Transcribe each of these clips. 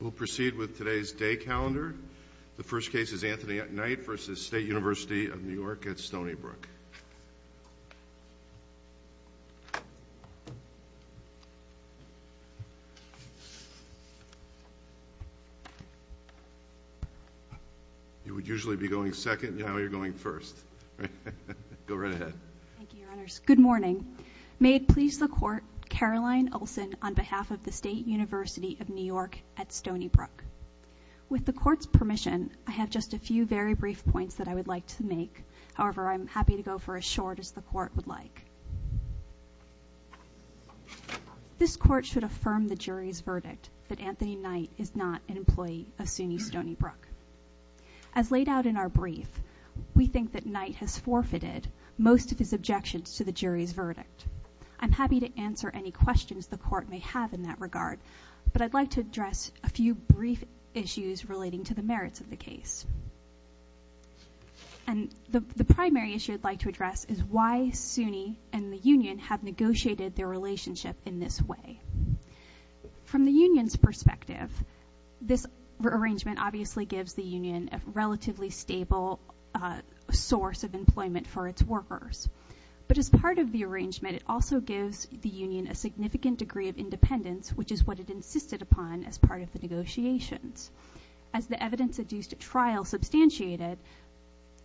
We'll proceed with today's day calendar. The first case is Anthony at Night versus State University of New York at Stony Brook. You would usually be going second, now you're going first. Go right ahead. Thank you, Your Honors. Good morning. May it please the court, Caroline Olsen on behalf of the State University of New York at Stony Brook. With the court's permission, I have just a few very brief points that I would like to make. However, I'm happy to go for as short as the court would like. This court should affirm the jury's verdict that Anthony Knight is not an employee of SUNY Stony Brook. As laid out in our brief, we think that Knight has forfeited most of his objections to the jury's verdict. I'm happy to answer any questions the court may have in that regard, but I'd like to address a few brief issues relating to the merits of the case. And the primary issue I'd like to address is why SUNY and the union have negotiated their relationship in this way. From the union's perspective, this arrangement obviously gives the union a relatively stable source of employment for its workers. But as part of the arrangement, it also gives the union a significant degree of independence, which is what it insisted upon as part of the negotiations. As the evidence adduced at trial substantiated,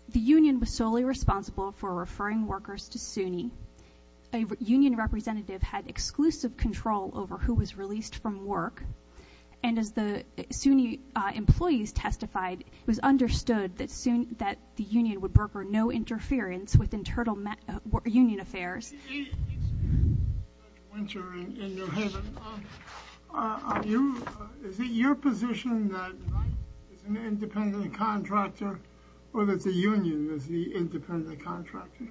the union was solely responsible for referring workers to SUNY. A union representative had exclusive control over who was released from work. And as the SUNY employees testified, it was understood that the union would broker no interference with internal union affairs. It's winter in New Haven, is it your position that Knight is an independent contractor or that the union is the independent contractor?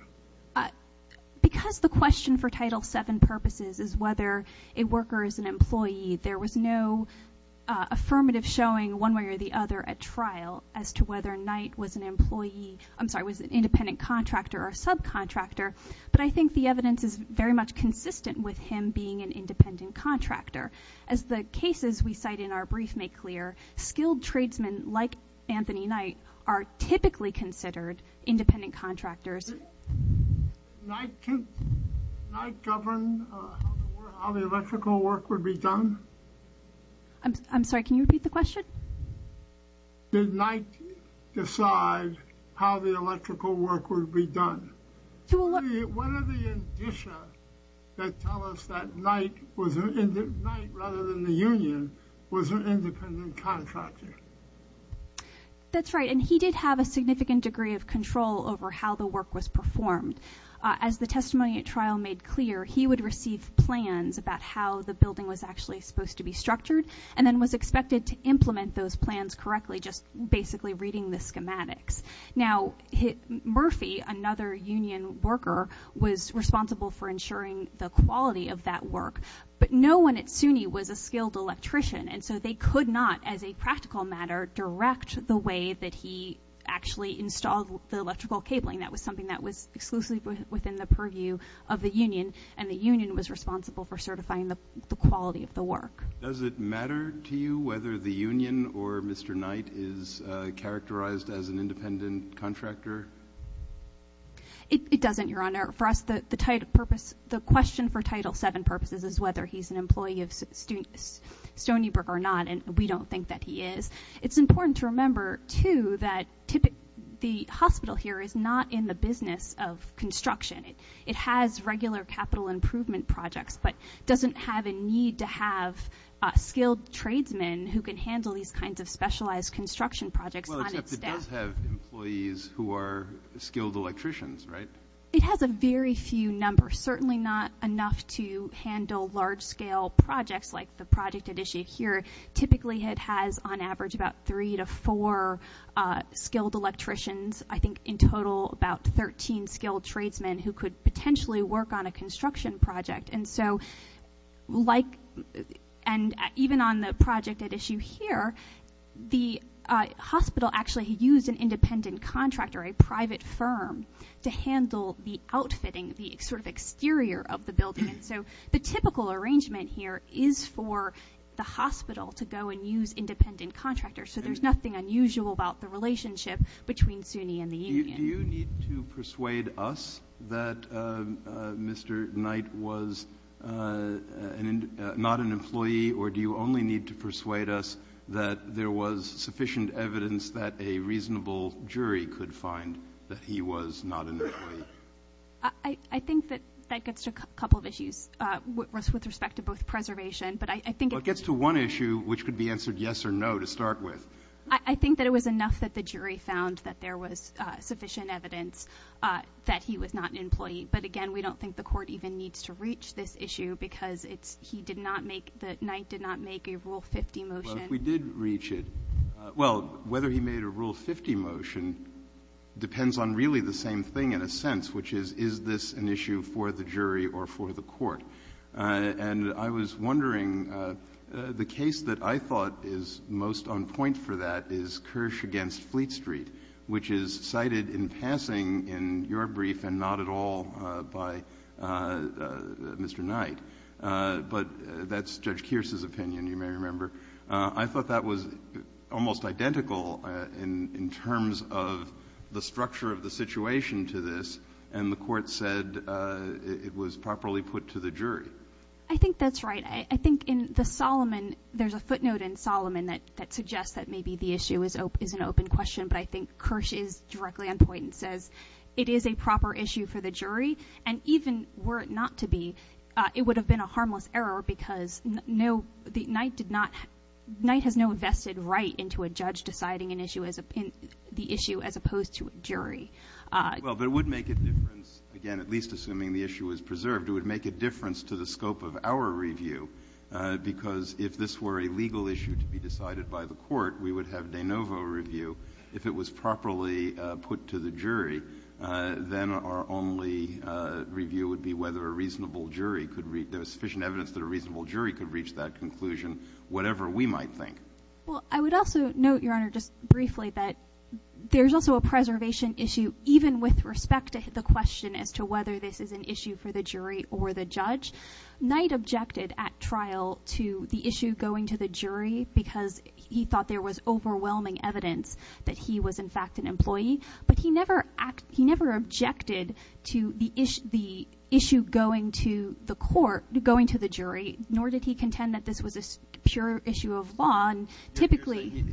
Because the question for Title VII purposes is whether a worker is an employee, there was no affirmative showing one way or the other at trial as to whether Knight was an employee, I'm sorry, was an independent contractor or subcontractor. But I think the evidence is very much consistent with him being an independent contractor. As the cases we cite in our brief make clear, skilled tradesmen like Anthony Knight are typically considered independent contractors. Did Knight govern how the electrical work would be done? I'm sorry, can you repeat the question? Did Knight decide how the electrical work would be done? What are the indicia that tell us that Knight, rather than the union, was an independent contractor? That's right, and he did have a significant degree of control over how the work was performed. As the testimony at trial made clear, he would receive plans about how the building was actually supposed to be structured, and then was expected to implement those plans correctly, just basically reading the schematics. Now Murphy, another union worker, was responsible for ensuring the quality of that work. But no one at SUNY was a skilled electrician, and so they could not, as a practical matter, direct the way that he actually installed the electrical cabling. That was something that was exclusively within the purview of the union, and the union was responsible for certifying the quality of the work. Does it matter to you whether the union or Mr. Knight is characterized as an independent contractor? It doesn't, Your Honor. For us, the question for Title VII purposes is whether he's an employee of Stony Brook or not, and we don't think that he is. It's important to remember, too, that the hospital here is not in the business of construction. It has regular capital improvement projects, but doesn't have a need to have skilled tradesmen who can handle these kinds of specialized construction projects on its staff. Well, except it does have employees who are skilled electricians, right? It has a very few numbers, certainly not enough to handle large-scale projects like the project at issue here. Typically, it has, on average, about three to four skilled electricians. I think, in total, about 13 skilled tradesmen who could potentially work on a construction project. And so even on the project at issue here, the hospital actually used an independent contractor, a private firm, to handle the outfitting, the sort of exterior of the building. And so the typical arrangement here is for the hospital to go and use independent contractors, so there's nothing unusual about the relationship between SUNY and the union. Do you need to persuade us that Mr. Knight was not an employee, or do you only need to persuade us that there was sufficient evidence that a reasonable jury could find that he was not an employee? I think that that gets to a couple of issues with respect to both preservation, but I think it gets to one issue, which could be answered yes or no to start with. I think that it was enough that the jury found that there was sufficient evidence that he was not an employee. But, again, we don't think the Court even needs to reach this issue because it's he did not make, that Knight did not make a Rule 50 motion. Well, if we did reach it, well, whether he made a Rule 50 motion depends on really the same thing, in a sense, which is, is this an issue for the jury or for the Court? And I was wondering, the case that I thought is most on point for that is Kirsch v. Fleet Street, which is cited in passing in your brief and not at all by Mr. Knight. But that's Judge Keir's opinion, you may remember. I thought that was almost identical in terms of the structure of the situation to this, and the Court said it was properly put to the jury. I think that's right. I think in the Solomon, there's a footnote in Solomon that suggests that maybe the issue is an open question, but I think Kirsch is directly on point and says it is a proper issue for the jury, and even were it not to be, it would have been a harmless error because no, the Knight did not, Knight has no vested right into a judge deciding an issue as a, the issue as opposed to a jury. Well, but it would make a difference, again, at least assuming the issue is preserved. It would make a difference to the scope of our review because if this were a legal issue to be decided by the Court, we would have de novo review. If it was properly put to the jury, then our only review would be whether a reasonable jury could reach that conclusion, whatever we might think. Well, I would also note, Your Honor, just briefly that there's also a preservation issue, even with respect to the question as to whether this is an issue for the jury or the judge. Knight objected at trial to the issue going to the jury because he thought there was overwhelming evidence that he was, in fact, an employee, but he never objected to the issue going to the court, going to the jury, nor did he contend that this was a pure issue of law. And typically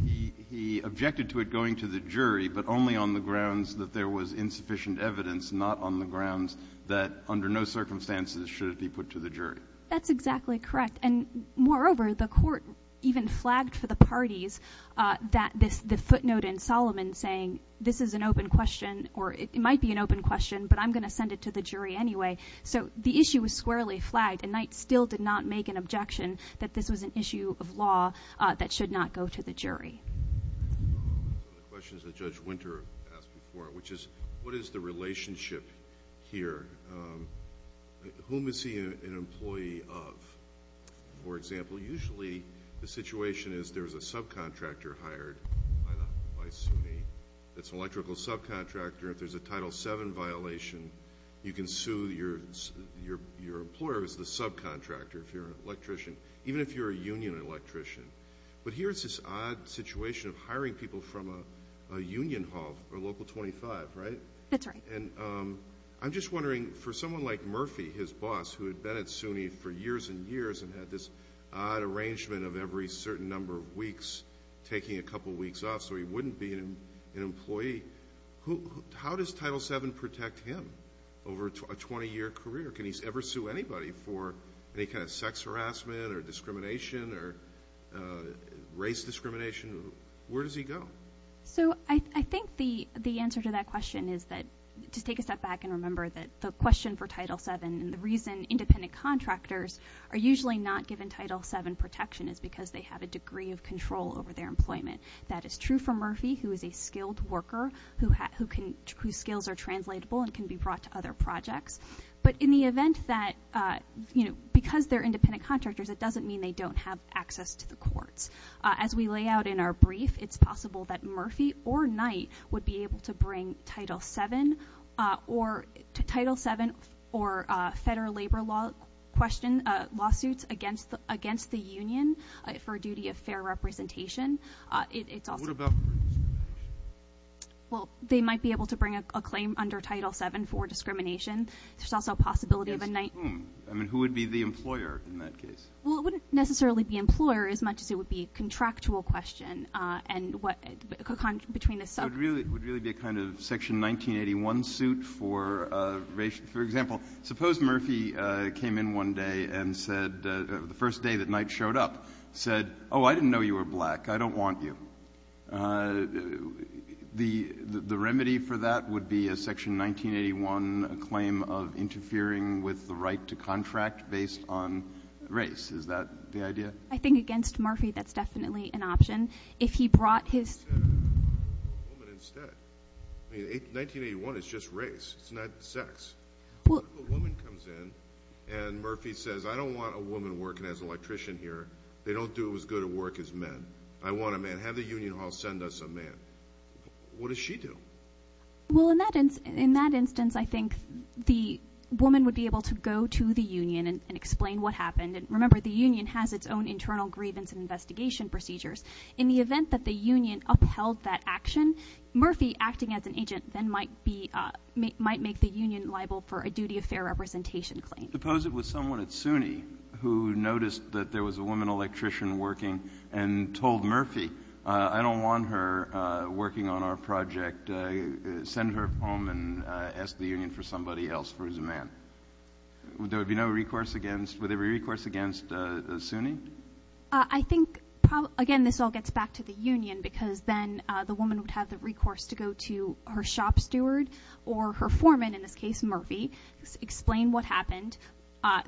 he objected to it going to the jury, but only on the grounds that there was insufficient evidence, not on the grounds that under no circumstances should it be put to the jury. That's exactly correct. And moreover, the Court even flagged for the parties that this, the footnote in Solomon saying this is an open question or it might be an open question, but I'm going to send it to the jury anyway. So the issue was squarely flagged, and Knight still did not make an objection that this was an issue of law that should not go to the jury. One of the questions that Judge Winter asked before, which is what is the relationship here? Whom is he an employee of? For example, usually the situation is there's a subcontractor hired by SUNY. It's an electrical subcontractor. If there's a Title VII violation, you can sue your employer who's the subcontractor if you're an electrician, even if you're a union electrician. But here's this odd situation of hiring people from a union hall or Local 25, right? That's right. And I'm just wondering, for someone like Murphy, his boss, who had been at SUNY for years and years and had this odd arrangement of every certain number of weeks taking a couple weeks off so he wouldn't be an employee, how does Title VII protect him over a 20-year career? Can he ever sue anybody for any kind of sex harassment or discrimination or race discrimination? Where does he go? So I think the answer to that question is that, just take a step back and remember that the question for Title VII and the reason independent contractors are usually not given Title VII protection is because they have a degree of control over their employment. That is true for Murphy, who is a skilled worker whose skills are translatable and can be brought to other projects. But in the event that, because they're independent contractors, it doesn't mean they don't have access to the courts. As we lay out in our brief, it's possible that Murphy or Knight would be able to bring Title VII or federal labor law lawsuits against the union for a duty of fair representation. What about discrimination? Well, they might be able to bring a claim under Title VII for discrimination. There's also a possibility of a Knight. Against whom? I mean, who would be the employer in that case? Well, it wouldn't necessarily be employer as much as it would be a contractual question. It would really be a kind of Section 1981 suit for example. Suppose Murphy came in one day and said, the first day that Knight showed up, said, oh, I didn't know you were black. I don't want you. The remedy for that would be a Section 1981 claim of interfering with the right to contract based on race. Is that the idea? I think against Murphy that's definitely an option. If he brought his What about a woman instead? I mean, 1981 is just race. It's not sex. What if a woman comes in and Murphy says, I don't want a woman working as an electrician here. They don't do as good a work as men. I want a man. Have the union hall send us a man. What does she do? Well, in that instance, I think the woman would be able to go to the union and explain what happened. And remember, the union has its own internal grievance and investigation procedures. In the event that the union upheld that action, Murphy acting as an agent then might be, might make the union liable for a duty of fair representation claim. Suppose it was someone at SUNY who noticed that there was a woman electrician working and told Murphy, I don't want her working on our project. Send her home and ask the union for somebody else for as a man. Would there be no recourse against, would there be recourse against SUNY? I think, again, this all gets back to the union because then the woman would have the recourse to go to her shop steward or her foreman, in this case Murphy, explain what happened.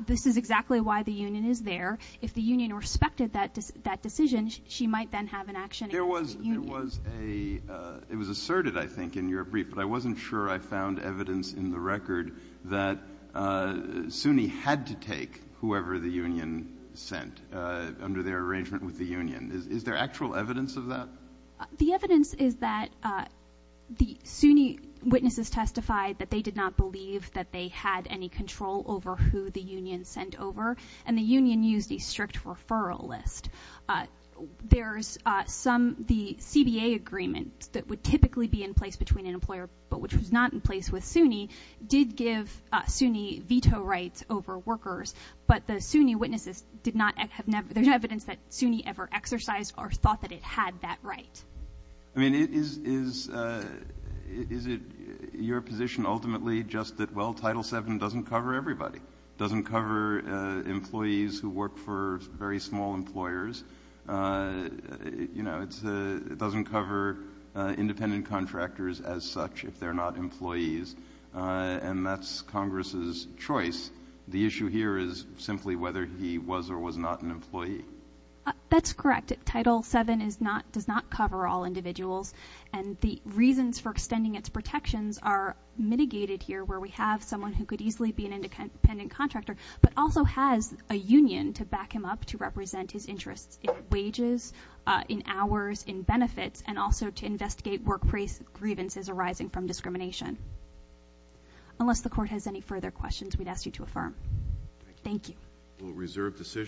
This is exactly why the union is there. If the union respected that decision, she might then have an action against the union. It was asserted, I think, in your brief, but I wasn't sure I found evidence in the record that SUNY had to take whoever the union sent under their arrangement with the union. Is there actual evidence of that? The evidence is that the SUNY witnesses testified that they did not believe that they had any control over who the union sent over, and the union used a strict referral list. There's some, the CBA agreement that would typically be in place between an employer but which was not in place with SUNY did give SUNY veto rights over workers, but the SUNY witnesses did not, there's no evidence that SUNY ever exercised or thought that it had that right. I mean, is it your position ultimately just that, well, Title VII doesn't cover everybody, doesn't cover employees who work for very small employers, you know, it doesn't cover independent contractors as such if they're not employees, and that's Congress's choice. The issue here is simply whether he was or was not an employee. That's correct. Title VII does not cover all individuals, and the reasons for extending its protections are mitigated here where we have someone who could easily be an independent contractor but also has a union to back him up to represent his interests in wages, in hours, in benefits, and also to investigate work grievances arising from discrimination. Unless the Court has any further questions, we'd ask you to affirm. Thank you. Thank you.